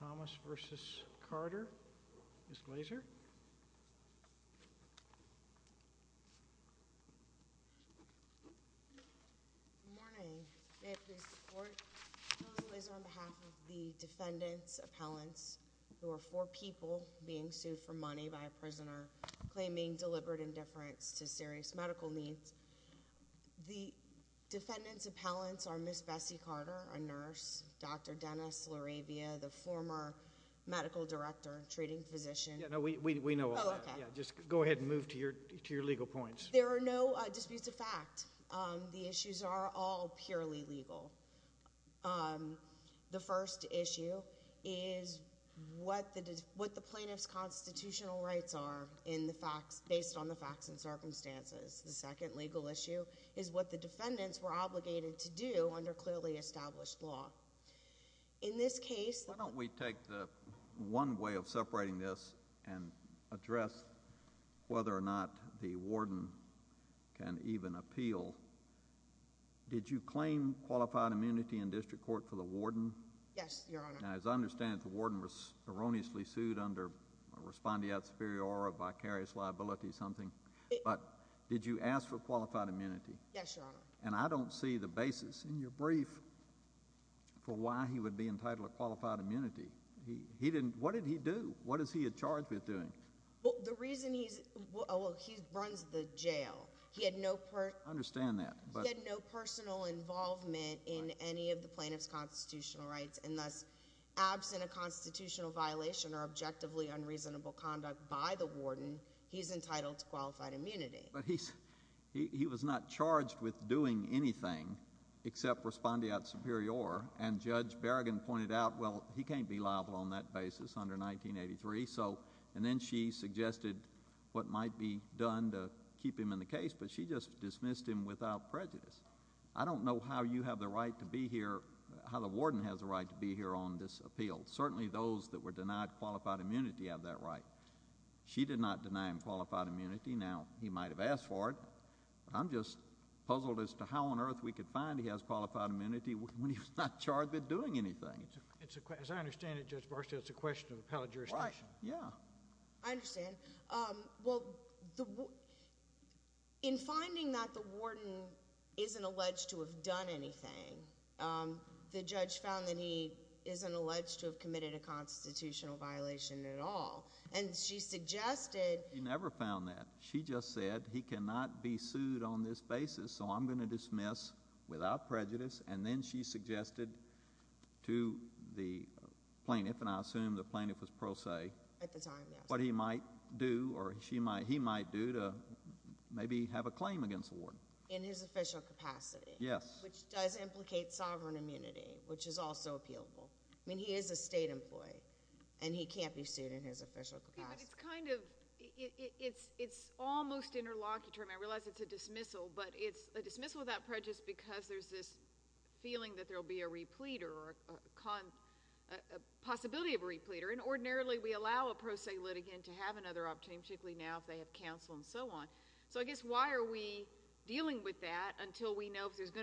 Thomas v. Carter, Ms. Glaser. On behalf of the defendants' appellants, there were four people being sued for money by a prisoner claiming deliberate indifference to serious medical needs. The defendants' appellants are Ms. Bessie Carter, a nurse, Dr. Dennis Laravia, the former medical director, treating physician. Yeah, no, we know all that. Oh, okay. Just go ahead and move to your legal points. There are no disputes of fact. The issues are all purely legal. The first issue is what the plaintiff's constitutional rights are based on the facts and circumstances. The second legal issue is what the defendants were obligated to do under clearly established law. In this case— Why don't we take the one way of separating this and address whether or not the warden can even appeal. Did you claim qualified immunity in district court for the warden? Yes, Your Honor. Now, as I understand it, the warden was erroneously sued under respondeat superior or a vicarious liability, something. But did you ask for qualified immunity? Yes, Your Honor. And I don't see the basis in your brief for why he would be entitled to qualified immunity. He didn't—what did he do? What is he charged with doing? Well, the reason he's—well, he runs the jail. He had no— I understand that, but— He had no personal involvement in any of the plaintiff's constitutional rights, and thus, absent a constitutional violation or objectively unreasonable conduct by the warden, he's entitled to qualified immunity. But he's—he was not charged with doing anything except respondeat superior, and Judge Berrigan pointed out, well, he can't be liable on that basis under 1983, so—and then she suggested what might be done to keep him in the case, but she just dismissed him without prejudice. I don't know how you have the right to be here—how the warden has the right to be here on this appeal. Certainly those that were denied qualified immunity have that right. She did not deny him qualified immunity. Now, he might have asked for it, but I'm just puzzled as to how on earth we could find he has qualified immunity when he's not charged with doing anything. It's a—as I understand it, Judge Barstow, it's a question of appellate jurisdiction. Right. Yeah. I understand. Well, the—in finding that the warden isn't alleged to have done anything, the judge found that he isn't alleged to have committed a constitutional violation at all, and she suggested— She never found that. She just said he cannot be sued on this basis, so I'm going to dismiss without prejudice, and then she suggested to the plaintiff—and I assume the plaintiff was pro se— At the time, yes. —what he might do or she might—he might do to maybe have a claim against the warden. In his official capacity. Yes. Which does implicate sovereign immunity, which is also appealable. I mean, he is a state employee, and he can't be sued in his official capacity. Yeah, but it's kind of—it's almost interlocutor, and I realize it's a dismissal, but it's a dismissal without prejudice because there's this feeling that there'll be a replete or a possibility of a replete, or ordinarily we allow a pro se litigant to have another opportunity, particularly now if they have counsel and so on. So I guess why are we going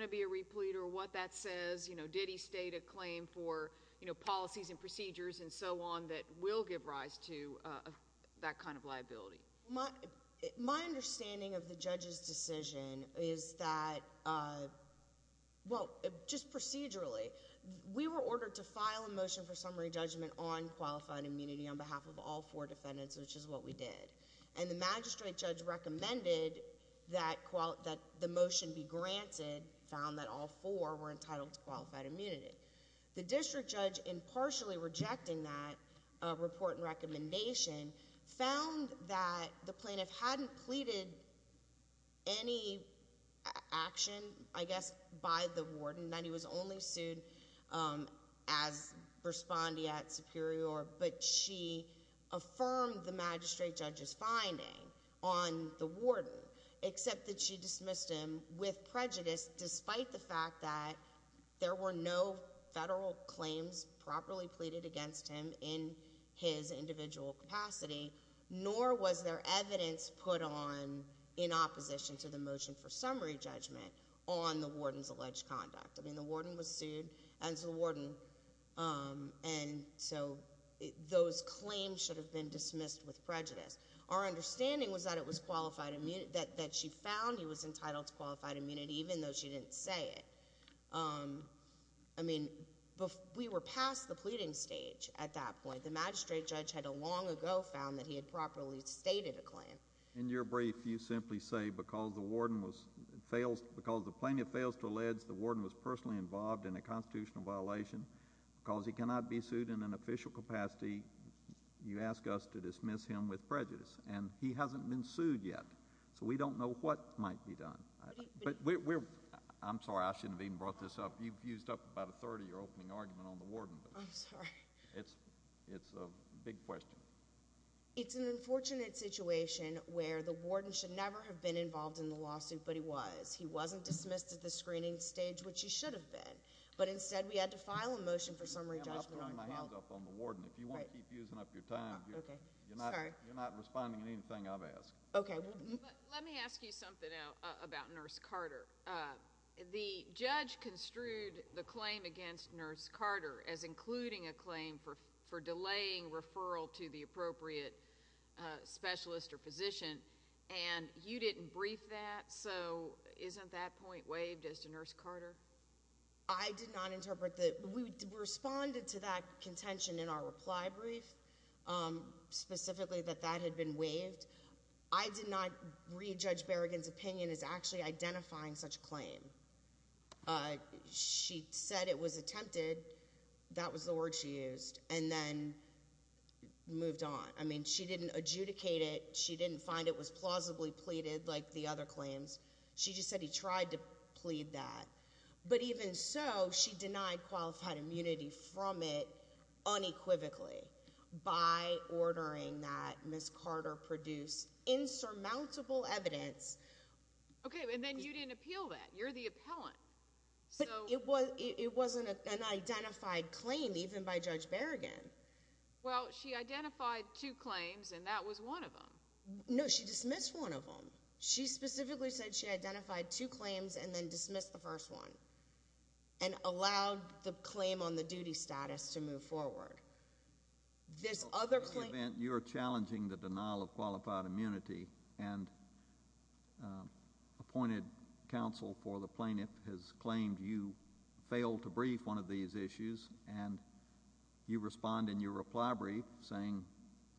to be a replete or what that says? Did he state a claim for policies and procedures and so on that will give rise to that kind of liability? My understanding of the judge's decision is that—well, just procedurally, we were ordered to file a motion for summary judgment on qualified immunity on behalf of all four defendants, which is what we did. And the magistrate judge recommended that the motion be granted, found that all four were entitled to qualified immunity. The district judge, in partially rejecting that report and recommendation, found that the plaintiff hadn't pleaded any action, I guess, by the warden, that he was only sued as respondeat superior, but she affirmed the magistrate judge's finding on the warden, except that she dismissed him with prejudice despite the fact that there were no federal claims properly pleaded against him in his individual capacity, nor was there evidence put on in opposition to the motion for summary judgment on the warden's alleged conduct. I mean, the warden was sued as the warden, and so those claims should have been dismissed with prejudice. Our understanding was that it was qualified—that she found he was entitled to qualified immunity, even though she didn't say it. I mean, we were past the pleading stage at that point. The magistrate judge had long ago found that he had properly stated a claim. In your brief, you simply say, because the warden was—because the plaintiff fails to allege the warden was personally involved in a constitutional violation, because he cannot be sued in an official capacity, you ask us to dismiss him with prejudice, and he hasn't been sued yet, so we don't know what might be done. But we're—I'm sorry, I shouldn't have even brought this up. You've used up about a third of your opening argument on the warden. I'm sorry. It's a big question. It's an unfortunate situation where the warden should never have been involved in the lawsuit, but he was. He wasn't dismissed at the screening stage, which he should have been, but instead we had to file a motion for your time. You're not responding to anything I've asked. Okay. Let me ask you something now about Nurse Carter. The judge construed the claim against Nurse Carter as including a claim for delaying referral to the appropriate specialist or physician, and you didn't brief that, so isn't that point waived as to Nurse Carter? I did not interpret that. We responded to that contention in our reply brief, specifically that that had been waived. I did not read Judge Berrigan's opinion as actually identifying such a claim. She said it was attempted. That was the word she used, and then moved on. I mean, she didn't adjudicate it. She didn't find it was plausibly pleaded like the other claims. She just said he tried to plead that, but even so, she denied qualified immunity from it unequivocally by ordering that Nurse Carter produce insurmountable evidence. Okay, and then you didn't appeal that. You're the appellant. But it wasn't an identified claim, even by Judge Berrigan. Well, she identified two claims, and that was one of them. No, she dismissed one of them. She specifically said she identified two claims, and then dismissed the first one, and allowed the claim on the duty status to move forward. This other claim— In the event you're challenging the denial of qualified immunity, and appointed counsel for the plaintiff has claimed you failed to brief one of these issues, and you respond in your reply brief saying,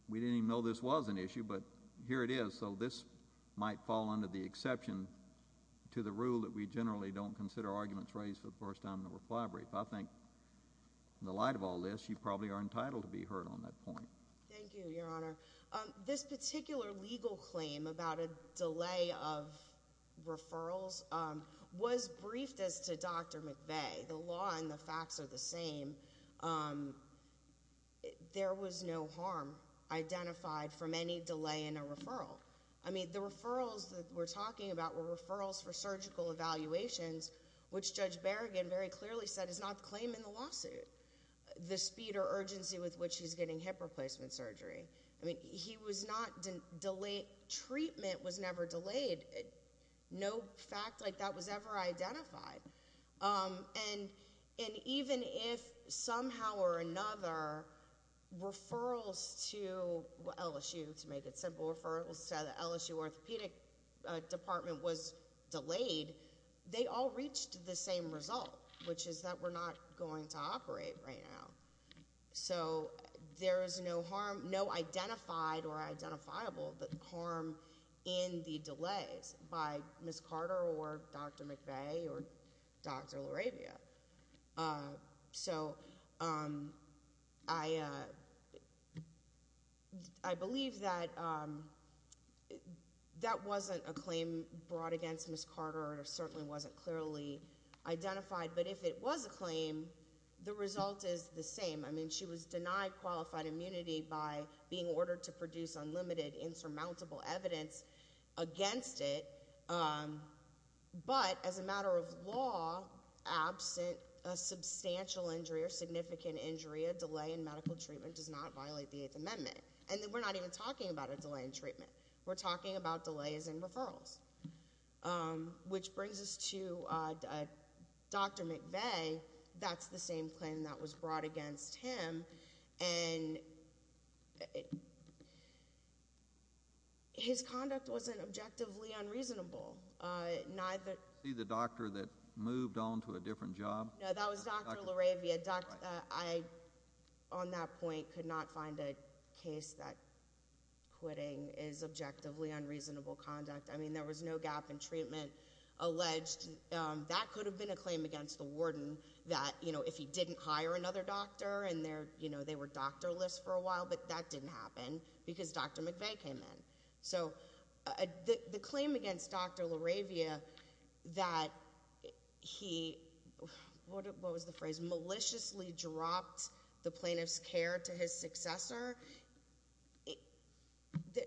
we didn't even know this was an issue, but here it is. So this might fall under the exception to the rule that we generally don't consider arguments raised for the first time in the reply brief. I think in the light of all this, you probably are entitled to be heard on that point. Thank you, Your Honor. This particular legal claim about a delay of referrals was briefed as to Dr. McVeigh. The law and the facts are the I mean, the referrals that we're talking about were referrals for surgical evaluations, which Judge Berrigan very clearly said is not the claim in the lawsuit, the speed or urgency with which he's getting hip replacement surgery. I mean, he was not—treatment was never delayed. No fact like that was ever identified. And even if somehow or another, referrals to LSU, to make it simple, referrals to the LSU orthopedic department was delayed, they all reached the same result, which is that we're not going to operate right now. So there is no harm, no identified or identifiable harm in the delays by Ms. Carter or Dr. McVeigh or Dr. LaRavia. So I believe that that wasn't a claim brought against Ms. Carter. It certainly wasn't clearly identified. But if it was a claim, the result is the same. I mean, she was denied qualified immunity by being ordered to produce unlimited, insurmountable evidence against it. But as a matter of law, absent a substantial injury or significant injury, a delay in medical treatment does not violate the Eighth Amendment. And we're not even talking about a delay in treatment. We're talking about delays in referrals, which brings us to Dr. McVeigh. That's the same claim that was brought against him. And it, his conduct wasn't objectively unreasonable. Neither... See the doctor that moved on to a different job? No, that was Dr. LaRavia. I, on that point, could not find a case that quitting is objectively unreasonable conduct. I mean, there was no gap in treatment alleged. That could have been a claim against the warden that, you know, if he didn't hire another doctor and they're, you know, they were doctorless for a while, but that didn't happen because Dr. McVeigh came in. So the claim against Dr. LaRavia that he, what was the phrase, maliciously dropped the plaintiff's care to his successor?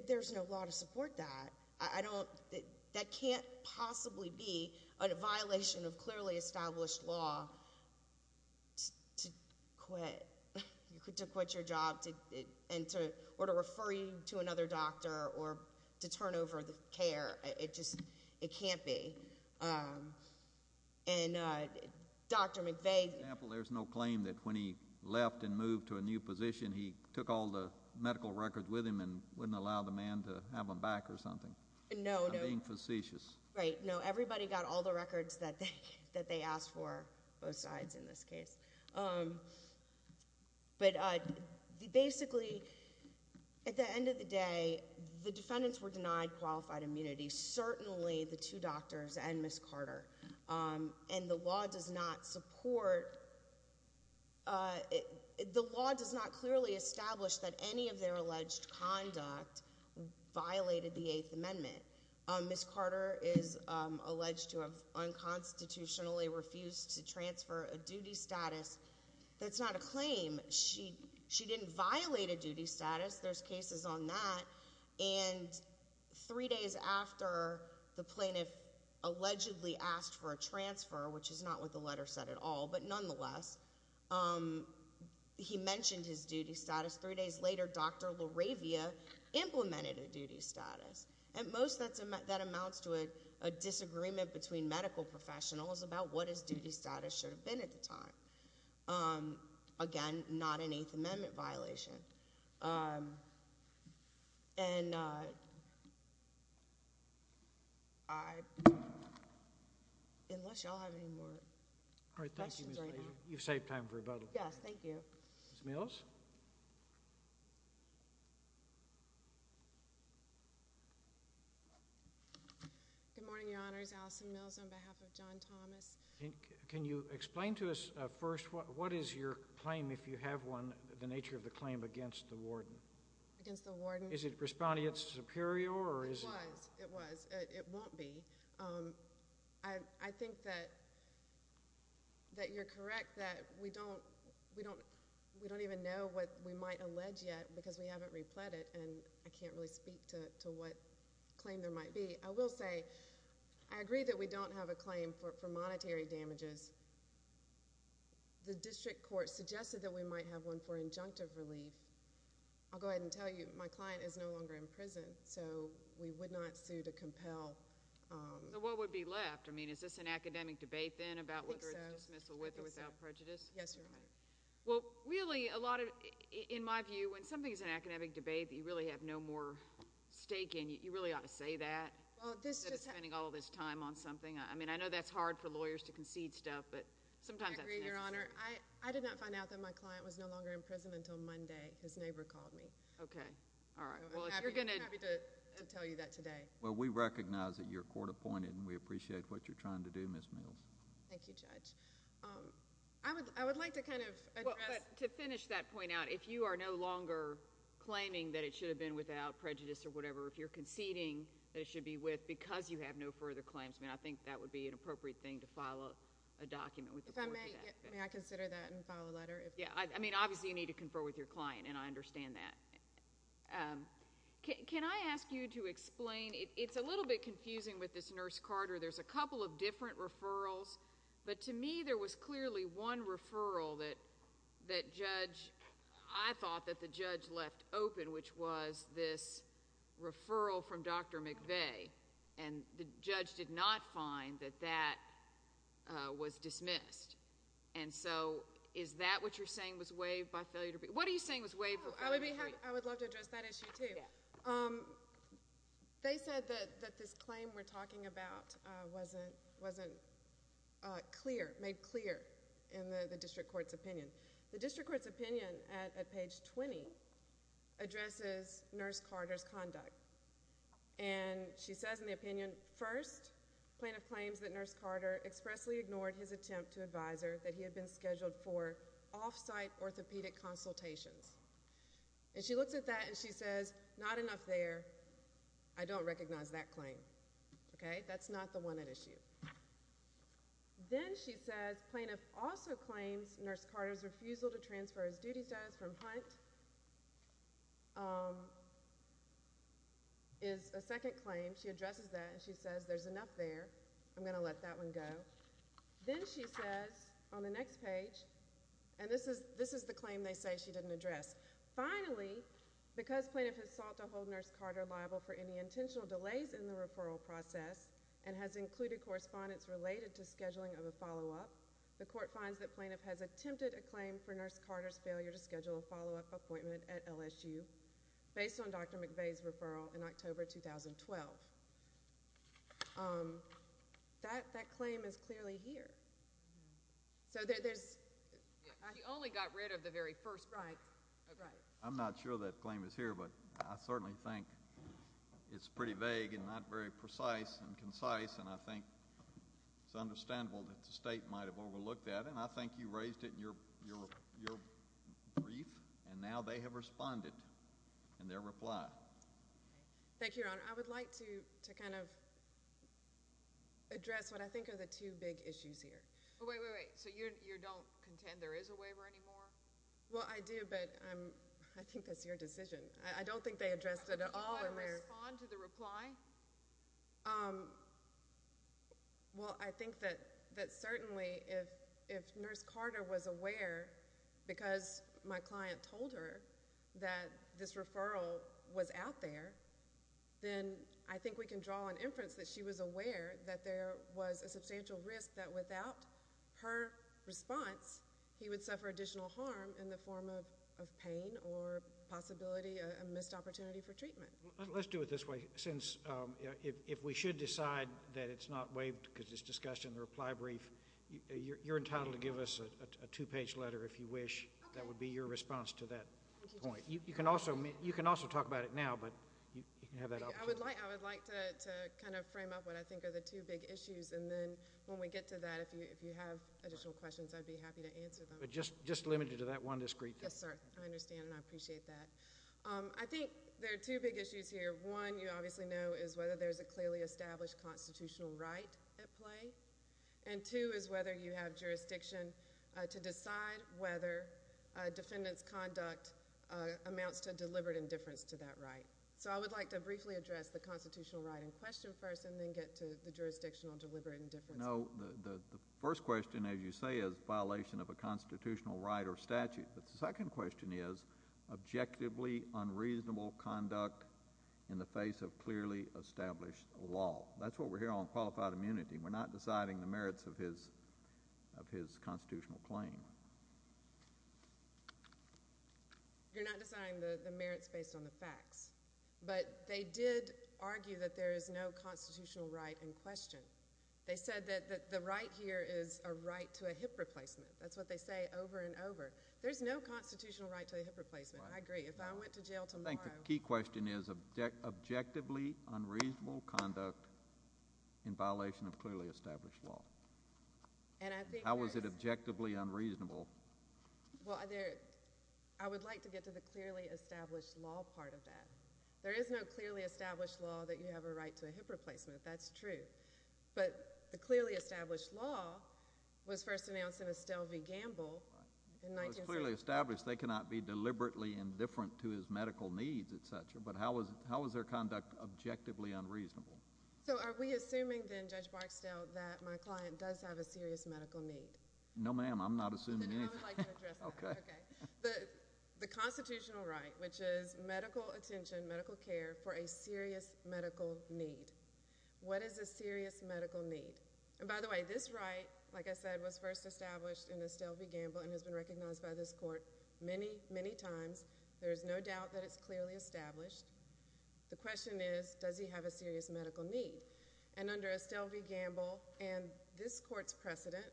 There's no law to support that. I don't, that can't possibly be a violation of clearly established law to quit. You could quit your job and to, or to refer you to another doctor or to turn over the care. It just, it can't be. And Dr. McVeigh... For example, there's no claim that when he left and moved to a new position, he took all the medical records with him and wouldn't allow the man to have them back or something? No, no. I'm being facetious. Right. No, everybody got all the records that they asked for, both sides in this case. But basically, at the end of the day, the defendants were denied qualified immunity, certainly the two doctors and Ms. Carter. And the law does not support, the law does not clearly establish that any of their alleged conduct violated the Eighth Amendment. Ms. Carter is alleged to have unconstitutionally refused to transfer a duty status. That's not a claim. She, she didn't violate a duty status. There's cases on that. And three days after the plaintiff allegedly asked for a transfer, which is not what the letter said at all, but nonetheless, he mentioned his duty status. Three days later, Dr. LaRavia implemented a duty status. At most, that amounts to a disagreement between medical professionals about what his duty status should have been at the time. Again, not an Eighth Amendment violation. And I, unless y'all have any more questions right now. All right. Thank you, Ms. Leiser. You've saved time for rebuttal. Yes. Thank you. Ms. Mills. Good morning, Your Honors. Alison Mills on behalf of John Thomas. Can you explain to us, first, what is your claim, if you have one, the nature of the claim against the warden? Against the warden? Is it responding, it's superior, or is it? It was. It was. It won't be. I, I think that, that you're correct, that we don't, we don't, we don't even know what we might allege yet, because we haven't replet it, and I can't really speak to, to what claim there might be. I will say, I agree that we don't have a claim for, for monetary damages. The district court suggested that we might have one for injunctive relief. I'll go ahead and tell you, my client is no longer in prison, so we would not sue to compel. So what would be left? I mean, is this an academic debate, then, about whether to dismissal with or without prejudice? Yes, Your Honor. Well, really, a lot of, in my view, when something's an academic debate that you really have no more stake in, you really ought to say that. Well, this just. Spending all this time on something. I mean, I know that's hard for lawyers to concede stuff, but sometimes that's necessary. I agree, Your Honor. I, I did not find out that my client was no longer in prison until Monday. His neighbor called me. Okay. All right. Well, if you're going to. I'm happy, I'm happy to, to tell you that today. Well, we recognize that you're court appointed, and we appreciate what you're trying to do, Ms. Mills. Thank you, Judge. I would, I would like to kind of address. Well, but to finish that point out, if you are no longer claiming that it should have been without prejudice or whatever, if you're conceding that it should be with, because you have no further claims, I mean, I think that would be an appropriate thing to file a, a document with the court for that. If I may, may I consider that and file a letter if. Yeah, I, I mean, obviously, you need to confer with your client, and I understand that. Can, can I ask you to explain, it, it's a little bit confusing with this Nurse Carter. There's a couple of different referrals, but to me, there was clearly one referral that, that judge, I thought that the judge left open, which was this referral from Dr. McVeigh, and the judge did not find that that was dismissed. And so, is that what you're saying was waived by failure to, what are you saying was waived? Oh, I would be happy, I would love to address that issue, too. They said that, that this claim we're talking about wasn't, wasn't clear, made clear in the, the district court's opinion. The district court's opinion at, at page 20 addresses Nurse Carter's conduct. And she says in the opinion, first, plaintiff claims that Nurse Carter expressly ignored his attempt to advise her that he had been scheduled for off-site orthopedic consultations. And she looks at that and she says, not enough there, I don't recognize that claim. Okay, that's not the one at issue. Then she says, plaintiff also claims Nurse Carter's refusal to transfer his duty status from Hunt is a second claim. She addresses that and she says, there's enough there, I'm going to let that one go. Then she says, on the next page, and this is, this is the claim they say she didn't address. Finally, because plaintiff has sought to hold Nurse Carter liable for any intentional delays in the referral process and has included correspondence related to scheduling of a follow-up, the court finds that plaintiff has attempted a claim for Nurse Carter's failure to schedule a follow-up appointment at LSU based on Dr. McVeigh's referral in October 2012. That, that claim is clearly here. So there, there's. She only got rid of the very first right. Right. I'm not sure that claim is here, but I certainly think it's pretty vague and not very precise and concise and I think it's understandable that the state might have overlooked that and I think you raised it in your, your, your brief and now they have responded in their reply. Thank you, Your Honor. I would like to, to kind of address what I think are the two big issues here. Oh, wait, wait, wait. So you, you don't contend there is a waiver anymore? Well, I do, but I'm, I think that's your decision. I don't think they addressed it at all. Do you want to respond to the reply? Well, I think that, that certainly if, if Nurse Carter was aware because my client told her that this referral was out there, then I think we can draw an inference that she was aware that there was a substantial risk that without her response, he would suffer additional harm in the form of, of pain or possibility, a missed opportunity for treatment. Let's do it this way. Since, if we should decide that it's not waived because it's discussed in the reply brief, you're entitled to give us a two-page letter if you wish. That would be your response to that point. You can also, you can also talk about it now, but you can have that opportunity. I would like, I would like to, to kind of frame up what I think are the two big issues and then when we get to that, if you, if you have additional questions, I'd be happy to answer them. Just, just limited to that one discreet thing. Yes, sir. I understand and I appreciate that. I think there are two big issues here. One, you obviously know, is whether there's a clearly established constitutional right at play. And two is whether you have jurisdiction to decide whether a defendant's conduct amounts to deliberate indifference to that right. So I would like to briefly address the constitutional right in question first and then get to the jurisdictional deliberate indifference. No, the first question, as you say, is violation of a constitutional right or statute. But the second question is objectively unreasonable conduct in the face of clearly established law. That's what we're hearing on qualified immunity. We're not deciding the merits of his, of his constitutional claim. You're not deciding the merits based on the facts. But they did argue that there is no constitutional right in question. They said that, that the right here is a right to a hip replacement. That's what they say over and over. There's no constitutional right to a hip replacement. I agree. If I went to jail tomorrow. I think the key question is objectively unreasonable conduct in violation of clearly established law. And I think there is. How is it objectively unreasonable? Well, there, I would like to get to the clearly established law part of that. There is no clearly established law that you have a right to a hip replacement. That's true. But the clearly established law was first announced in Estelle v. Gamble. It was clearly established they cannot be deliberately indifferent to his medical needs, et cetera. But how is, how is their conduct objectively unreasonable? So are we assuming then, Judge Barksdale, that my client does have a serious medical need? No, ma'am. I'm not assuming anything. Then I would like to address that. Okay. Okay. The, the constitutional right, which is medical attention, medical care for a serious medical need. What is a serious medical need? And by the way, this right, like I said, was first established in Estelle v. Gamble and has been recognized by this court many, many times. There is no doubt that it's clearly established. The question is, does he have a serious medical need? And under Estelle v. Gamble and this court's precedent,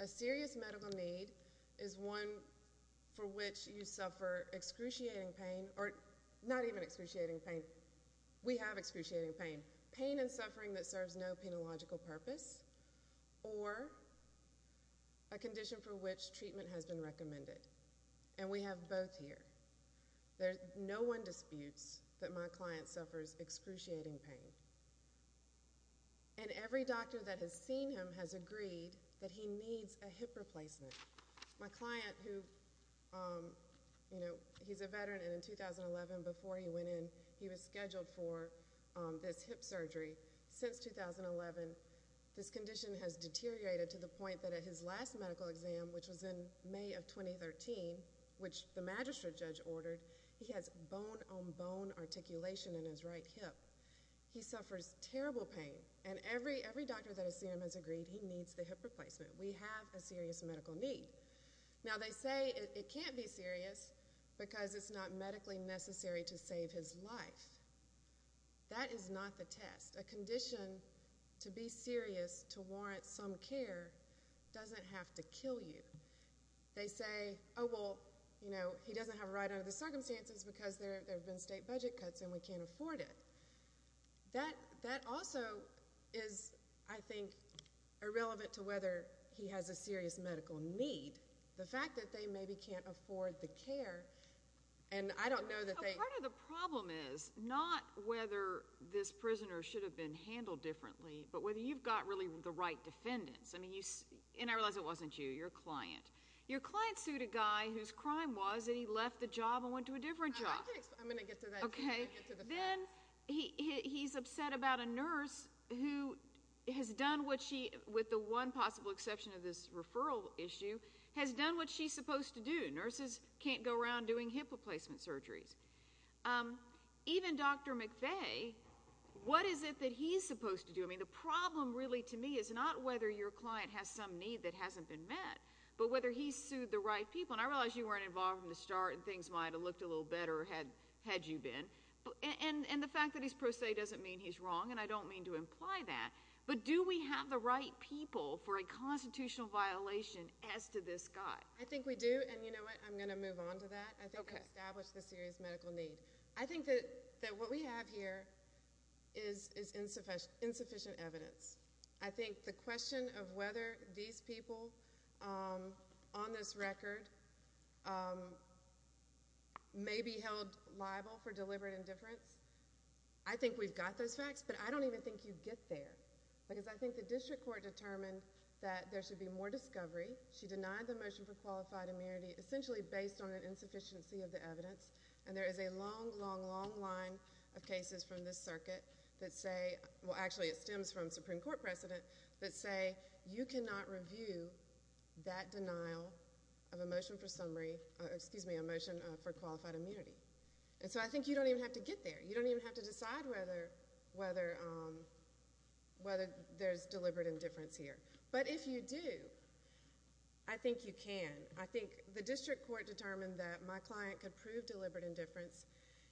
a serious medical need is one for which you suffer excruciating pain or not even excruciating pain. We have excruciating pain. Pain and suffering that serves no penological purpose or a condition for which treatment has been recommended. And we have both here. There's no one disputes that my client suffers excruciating pain. And every doctor that has seen him has agreed that he needs a hip replacement. My client who, you know, he's a veteran and in 2011, before he went in, he was scheduled for this hip surgery. Since 2011, this condition has deteriorated to the point that at his last medical exam, which was in May of 2013, which the magistrate judge ordered, he has bone-on-bone articulation in his right hip. He suffers terrible pain. And every doctor that has seen him has agreed he needs the hip replacement. We have a serious medical need. Now they say it can't be serious because it's not medically necessary to save his life. That is not the test. A condition to be serious to warrant some care doesn't have to kill you. They say, oh, well, you know, he doesn't have a right under the circumstances because there have been state budget cuts and we can't afford it. That also is, I think, irrelevant to whether he has a serious medical need. The fact that they maybe can't afford the care and I don't know that they can. Part of the problem is not whether this prisoner should have been handled differently, but whether you've got really the right defendants. I mean, and I realize it wasn't you, your client. Your client sued a guy whose crime was that he left the job and went to a different job. I'm going to get to that. Okay. Then he's upset about a nurse who has done what she, with the one possible exception of this referral issue, has done what she's supposed to do. Nurses can't go around doing hip replacement surgeries. Even Dr. McVeigh, what is it that he's supposed to do? I mean, the problem really to me is not whether your client has some need that hasn't been met, but whether he sued the right people. And I realize you weren't involved from the start and things might have looked a little better had you been. And the fact that he's pro se doesn't mean he's wrong and I don't mean to imply that. But do we have the right people for a constitutional violation as to this guy? I think we do. And you know what? I'm going to move on to that. I think that what we have here is insufficient evidence. I think the question of whether these people on this record may be held liable for deliberate indifference, I think we've got those facts. But I don't even think you get there. Because I think the district court determined that there should be more discovery. She denied the motion for qualified immunity essentially based on an insufficiency of the evidence. And there is a long, long, long line of cases from this circuit that say, well actually it stems from Supreme Court precedent, that say you cannot review that denial of a motion for summary, excuse me, a motion for qualified immunity. And so I think you don't even have to get there. You don't even have to decide whether there's deliberate indifference here. But if you do, I think you can. I think the district court determined that my client could prove deliberate indifference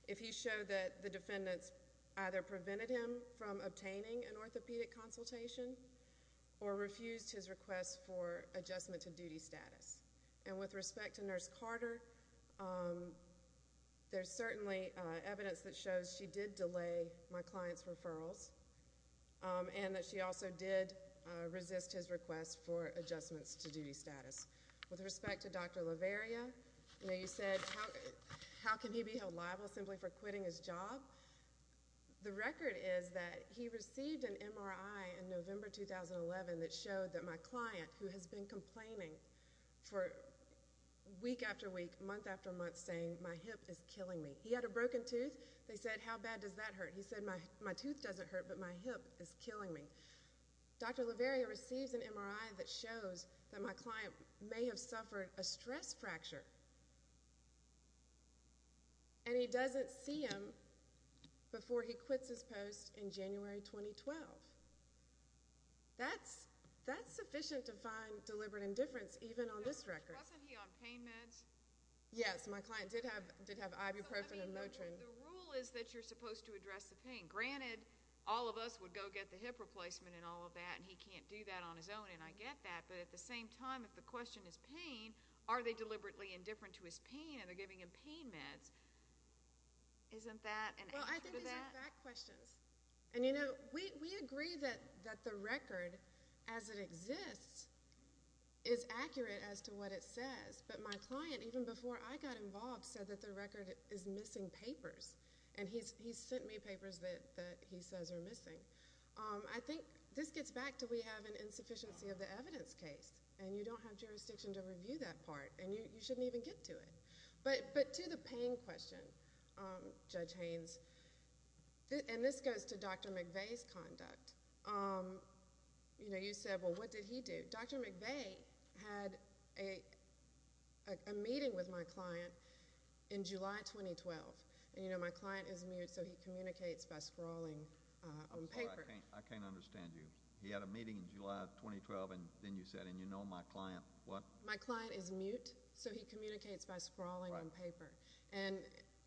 if he showed that the defendants either prevented him from obtaining an orthopedic consultation or refused his request for adjustment to duty status. And with respect to Nurse Carter, there's certainly evidence that shows she did delay my client's referrals and that she also did resist his request for adjustments to duty status. With respect to Dr. Laveria, you know, you said how can he be held liable simply for quitting his job? The record is that he received an MRI in November 2011 that showed that my client, who has been complaining for week after week, month after month, saying my hip is killing me. He had a broken tooth. They said, how bad does that hurt? My tooth doesn't hurt, but my hip is killing me. Dr. Laveria receives an MRI that shows that my client may have suffered a stress fracture and he doesn't see him before he quits his post in January 2012. That's sufficient to find deliberate indifference even on this record. Wasn't he on pain meds? Yes, my client did have ibuprofen and Motrin. The rule is that you're supposed to address the pain. Granted, all of us would go get the hip replacement and all of that, and he can't do that on his own, and I get that. But at the same time, if the question is pain, are they deliberately indifferent to his pain and they're giving him pain meds? Isn't that an answer to that? Well, I think these are fact questions. And, you know, we agree that the record as it exists is accurate as to what it says. But my client, even before I got involved, said that the record is missing papers. And he sent me papers that he says are missing. I think this gets back to we have an insufficiency of the evidence case. And you don't have jurisdiction to review that part. And you shouldn't even get to it. But to the pain question, Judge Haynes, and this goes to Dr. McVeigh's conduct. You know, you said, well, what did he do? Dr. McVeigh had a meeting with my client in July 2012. And, you know, my client is mute, so he communicates by scrawling on paper. I'm sorry, I can't understand you. He had a meeting in July 2012, and then you said, and you know my client, what? My client is mute, so he communicates by scrawling on paper. And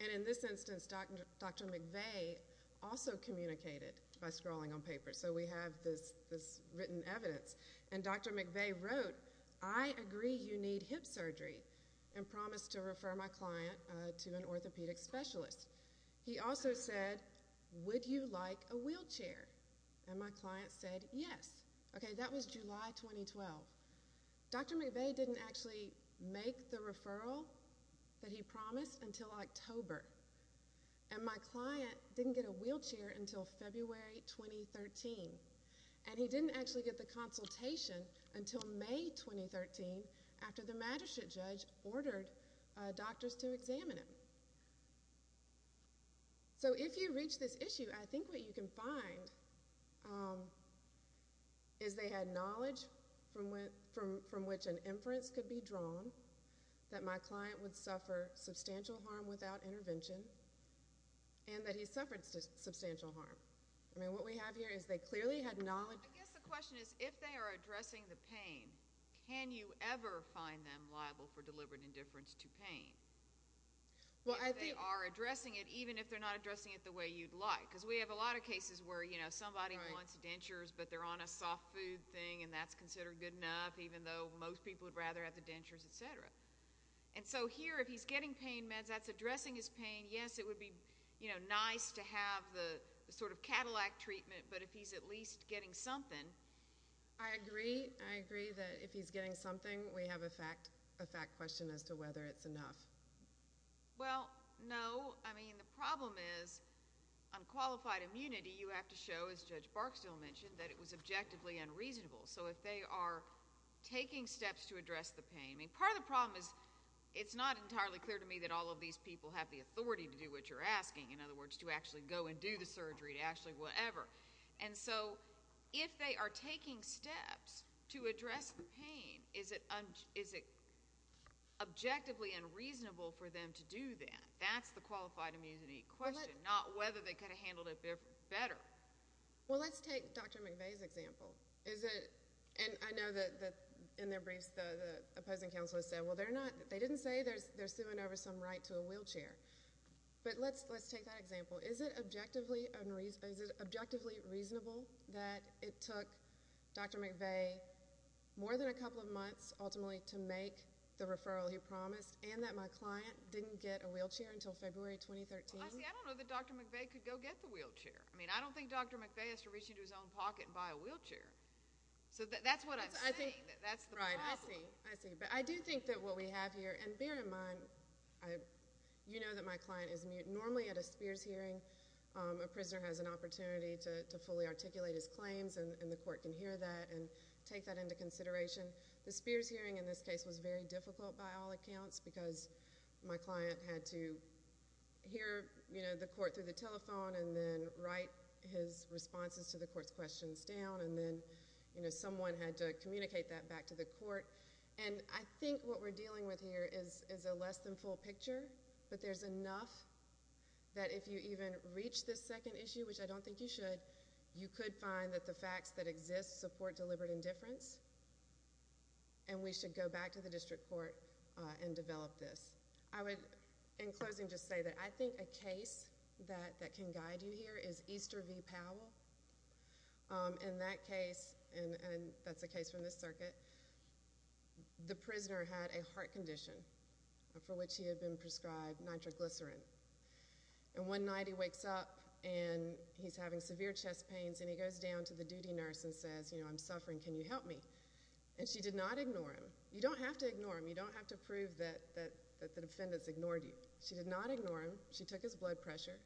in this instance, Dr. McVeigh also communicated by scrawling on paper. So we have this written evidence. And Dr. McVeigh wrote, I agree you need hip surgery. And promised to refer my client to an orthopedic specialist. He also said, would you like a wheelchair? And my client said, yes. Okay, that was July 2012. Dr. McVeigh didn't actually make the referral that he promised until October. And my client didn't get a wheelchair until February 2013. And he didn't actually get the consultation until May 2013 after the Magistrate Judge ordered doctors to examine him. So if you reach this issue, I think what you can find is they had knowledge from which an inference could be drawn, that my client would suffer substantial harm without intervention, and that he suffered substantial harm. I mean, what we have here is they clearly had knowledge. I guess the question is, if they are addressing the pain, can you ever find them liable for deliberate indifference to pain? Well, I think. If they are addressing it, even if they're not addressing it the way you'd like. Because we have a lot of cases where, you know, somebody wants dentures, but they're on a soft food thing, and that's considered good enough, even though most people would rather have the dentures, et cetera. And so here, if he's getting pain meds, that's addressing his pain. Yes, it would be nice to have the sort of Cadillac treatment, but if he's at least getting something. I agree. I agree that if he's getting something, we have a fact question as to whether it's enough. Well, no. I mean, the problem is, on qualified immunity, you have to show, as Judge Barksdale mentioned, that it was objectively unreasonable. So if they are taking steps to address the pain. I mean, part of the problem is, it's not entirely clear to me that all of these people have the authority to do what you're asking. In other words, to actually go and do the surgery, to actually whatever. And so, if they are taking steps to address the pain, is it objectively unreasonable for them to do that? That's the qualified immunity question, not whether they could have handled it better. Well, let's take Dr. McVeigh's example. Is it, and I know that in their briefs, the opposing counsel has said, well, they didn't say they're suing over some right to a wheelchair. But let's take that example. Is it objectively reasonable that it took Dr. McVeigh more than a couple of months, ultimately, to make the referral he promised, and that my client didn't get a wheelchair until February 2013? Honestly, I don't know that Dr. McVeigh could go get the wheelchair. I mean, I don't think Dr. McVeigh has to reach into his own pocket and buy a wheelchair. So that's what I'm saying. That's the problem. Right. I see. I see. I think that what we have here, and bear in mind, I, you know that my client is mute. Normally at a Spears hearing, a prisoner has an opportunity to fully articulate his claims, and the court can hear that and take that into consideration. The Spears hearing in this case was very difficult by all accounts because my client had to hear, you know, the court through the telephone and then write his responses to the court's questions down. And I think what we're dealing with here is a less than full picture, but there's enough that if you even reach this second issue, which I don't think you should, you could find that the facts that exist support deliberate indifference, and we should go back to the district court and develop this. I would, in closing, just say that I think a case that can guide you here is Easter v. Powell. In that case, and that's a case from this circuit, the prisoner had a heart condition for which he had been prescribed nitroglycerin. And one night he wakes up, and he's having severe chest pains, and he goes down to the duty nurse and says, you know, I'm suffering. Can you help me? And she did not ignore him. You don't have to ignore him. You don't have to prove that the defendants ignored you. She did not ignore him. She took his blood pressure,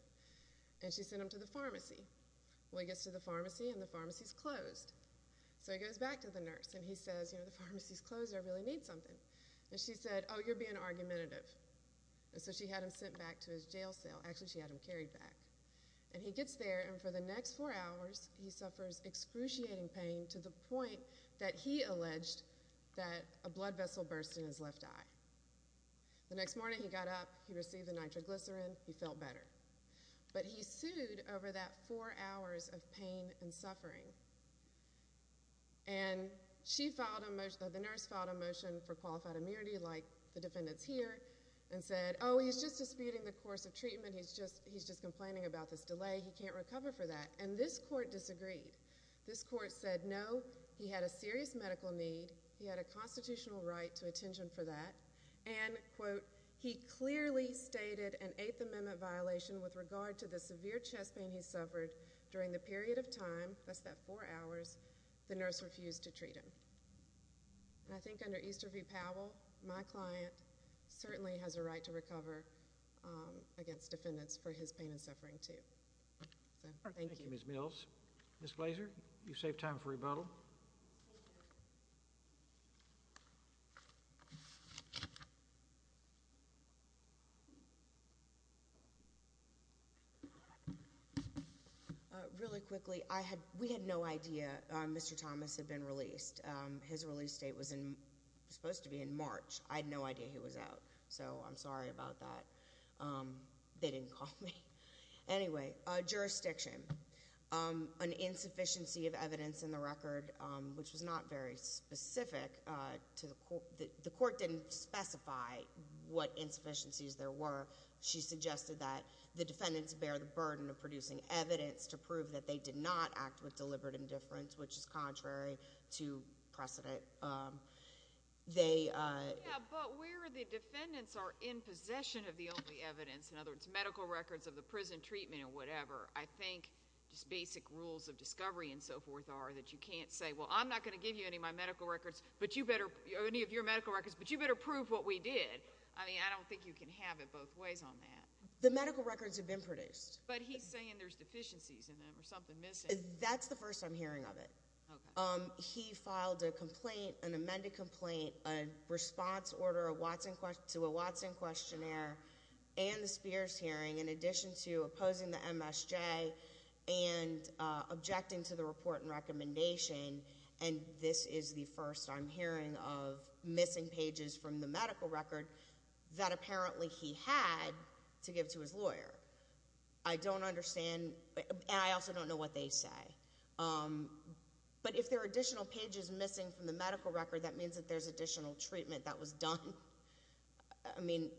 and she sent him to the pharmacy. Well, he gets to the pharmacy, and the pharmacy's closed. So he goes back to the nurse, and he says, you know, the pharmacy's closed. I really need something. And she said, oh, you're being argumentative. And so she had him sent back to his jail cell. Actually, she had him carried back. And he gets there, and for the next four hours, he suffers excruciating pain to the point that he alleged that a blood vessel burst in his left eye. The next morning, he got up. He received the nitroglycerin. He felt better. But he sued over that four hours of pain and suffering. And she filed a motion. The nurse filed a motion for qualified immunity, like the defendants here, and said, oh, he's just disputing the course of treatment. He's just complaining about this delay. He can't recover for that. And this court disagreed. This court said, no, he had a serious medical need. He had a constitutional right to attention for that. And, quote, he clearly stated an Eighth Amendment violation with regard to the severe chest pain he suffered during the period of time, that's that four hours, the nurse refused to treat him. And I think under Easter v. Powell, my client certainly has a right to recover against defendants for his pain and suffering, too. So thank you. Thank you, Ms. Mills. Ms. Blaser, you've saved time for rebuttal. Ms. Blaser. Really quickly, we had no idea Mr. Thomas had been released. His release date was supposed to be in March. I had no idea he was out. So I'm sorry about that. They didn't call me. Anyway, jurisdiction. An insufficiency of evidence in the record, which was not very specific to the court, didn't specify what insufficiencies there were. She suggested that the defendants bear the burden of producing evidence to prove that they did not act with deliberate indifference, which is contrary to precedent. They— Yeah, but where the defendants are in possession of the only evidence, in other words, medical records of the prison treatment or whatever, I think just basic rules of discovery and so forth are that you can't say, well, I'm not going to but you better prove what we did. I mean, I don't think you can have it both ways on that. The medical records have been produced. But he's saying there's deficiencies in them or something missing. That's the first I'm hearing of it. He filed a complaint, an amended complaint, a response order to a Watson questionnaire and the Spears hearing in addition to opposing the MSJ and objecting to the report and recommendation. And this is the first I'm hearing of missing pages from the medical record that apparently he had to give to his lawyer. I don't understand. And I also don't know what they say. But if there are additional pages missing from the medical record, that means that there's additional treatment that was done. I mean,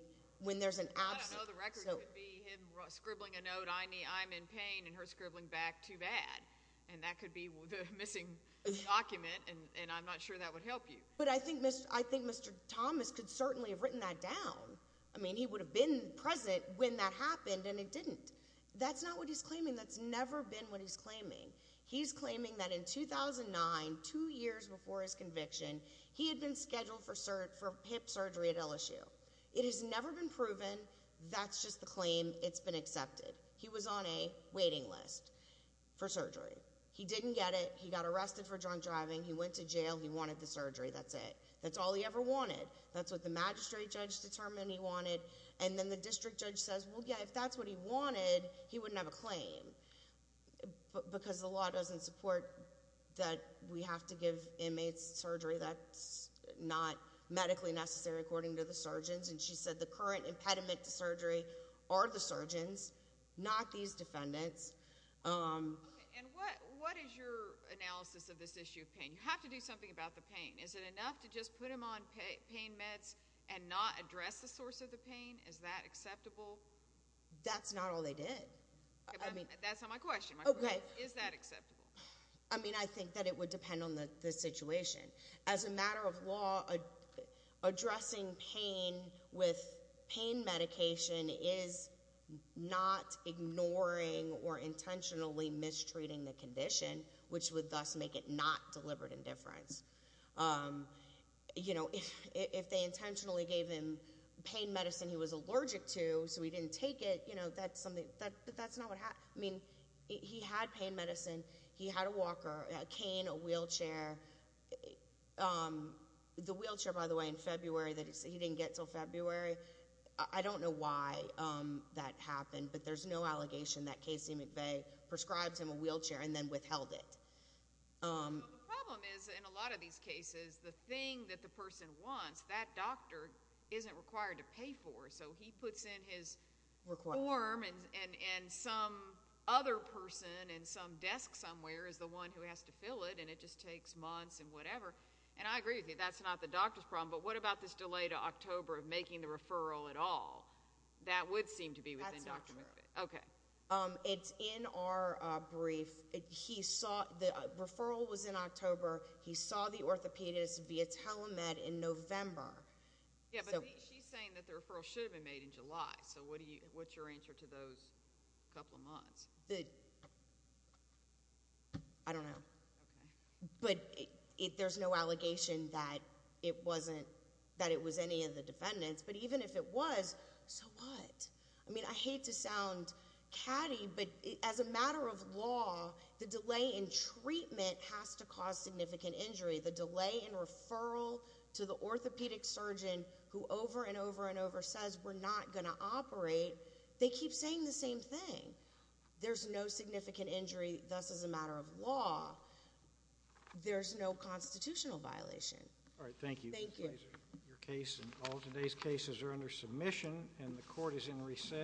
when there's an absence— I don't know. The record could be him scribbling a note, I'm in pain, and her scribbling back, too bad. And that could be the missing document, and I'm not sure that would help you. But I think Mr. Thomas could certainly have written that down. I mean, he would have been present when that happened, and he didn't. That's not what he's claiming. That's never been what he's claiming. He's claiming that in 2009, two years before his conviction, he had been scheduled for hip surgery at LSU. It has never been proven. That's just the claim. It's been accepted. He was on a waiting list for surgery. He didn't get it. He got arrested for drunk driving. He went to jail. He wanted the surgery. That's it. That's all he ever wanted. That's what the magistrate judge determined he wanted. And then the district judge says, well, yeah, if that's what he wanted, he wouldn't have a claim, because the law doesn't support that we have to give inmates surgery that's not medically necessary, according to the surgeons. And she said the current impediment to surgery are the surgeons, not these defendants. Okay. And what is your analysis of this issue of pain? You have to do something about the pain. Is it enough to just put him on pain meds and not address the source of the pain? Is that acceptable? That's not all they did. That's not my question. Okay. Is that acceptable? I mean, I think that it would depend on the situation. As a matter of law, addressing pain with pain medication is not ignoring or intentionally mistreating the condition, which would thus make it not deliberate indifference. You know, if they intentionally gave him pain medicine he was allergic to so he didn't take it, you know, that's something, that's not what happened. I mean, he had pain medicine. He had a walker, a cane, a wheelchair. The wheelchair, by the way, in February that he didn't get until February, I don't know why that happened, but there's no allegation that Casey McVeigh prescribed him a wheelchair and then withheld it. Well, the problem is, in a lot of these cases, the thing that the person wants, that doctor isn't required to pay for. So he puts in his form and some other person and some desk somewhere is the one who has to fill it and it just takes months and whatever. And I agree with you, that's not the doctor's problem, but what about this delay to October of making the referral at all? That would seem to be within Dr. McVeigh. That's not true. It's in our brief. The referral was in October. He saw the orthopedist via telemed in November. Yeah, but she's saying that the referral should have been made in July. So what's your answer to those couple of months? I don't know. But there's no allegation that it was any of the defendants, but even if it was, so what? I mean, I hate to sound catty, but as a matter of law, the delay in treatment has to cause significant injury. The delay in referral to the orthopedic surgeon who over and over and over says we're not going to operate, they keep saying the same thing. There's no significant injury, thus as a matter of law. There's no constitutional violation. All right, thank you. Thank you. All today's cases are under submission and the court is in recess.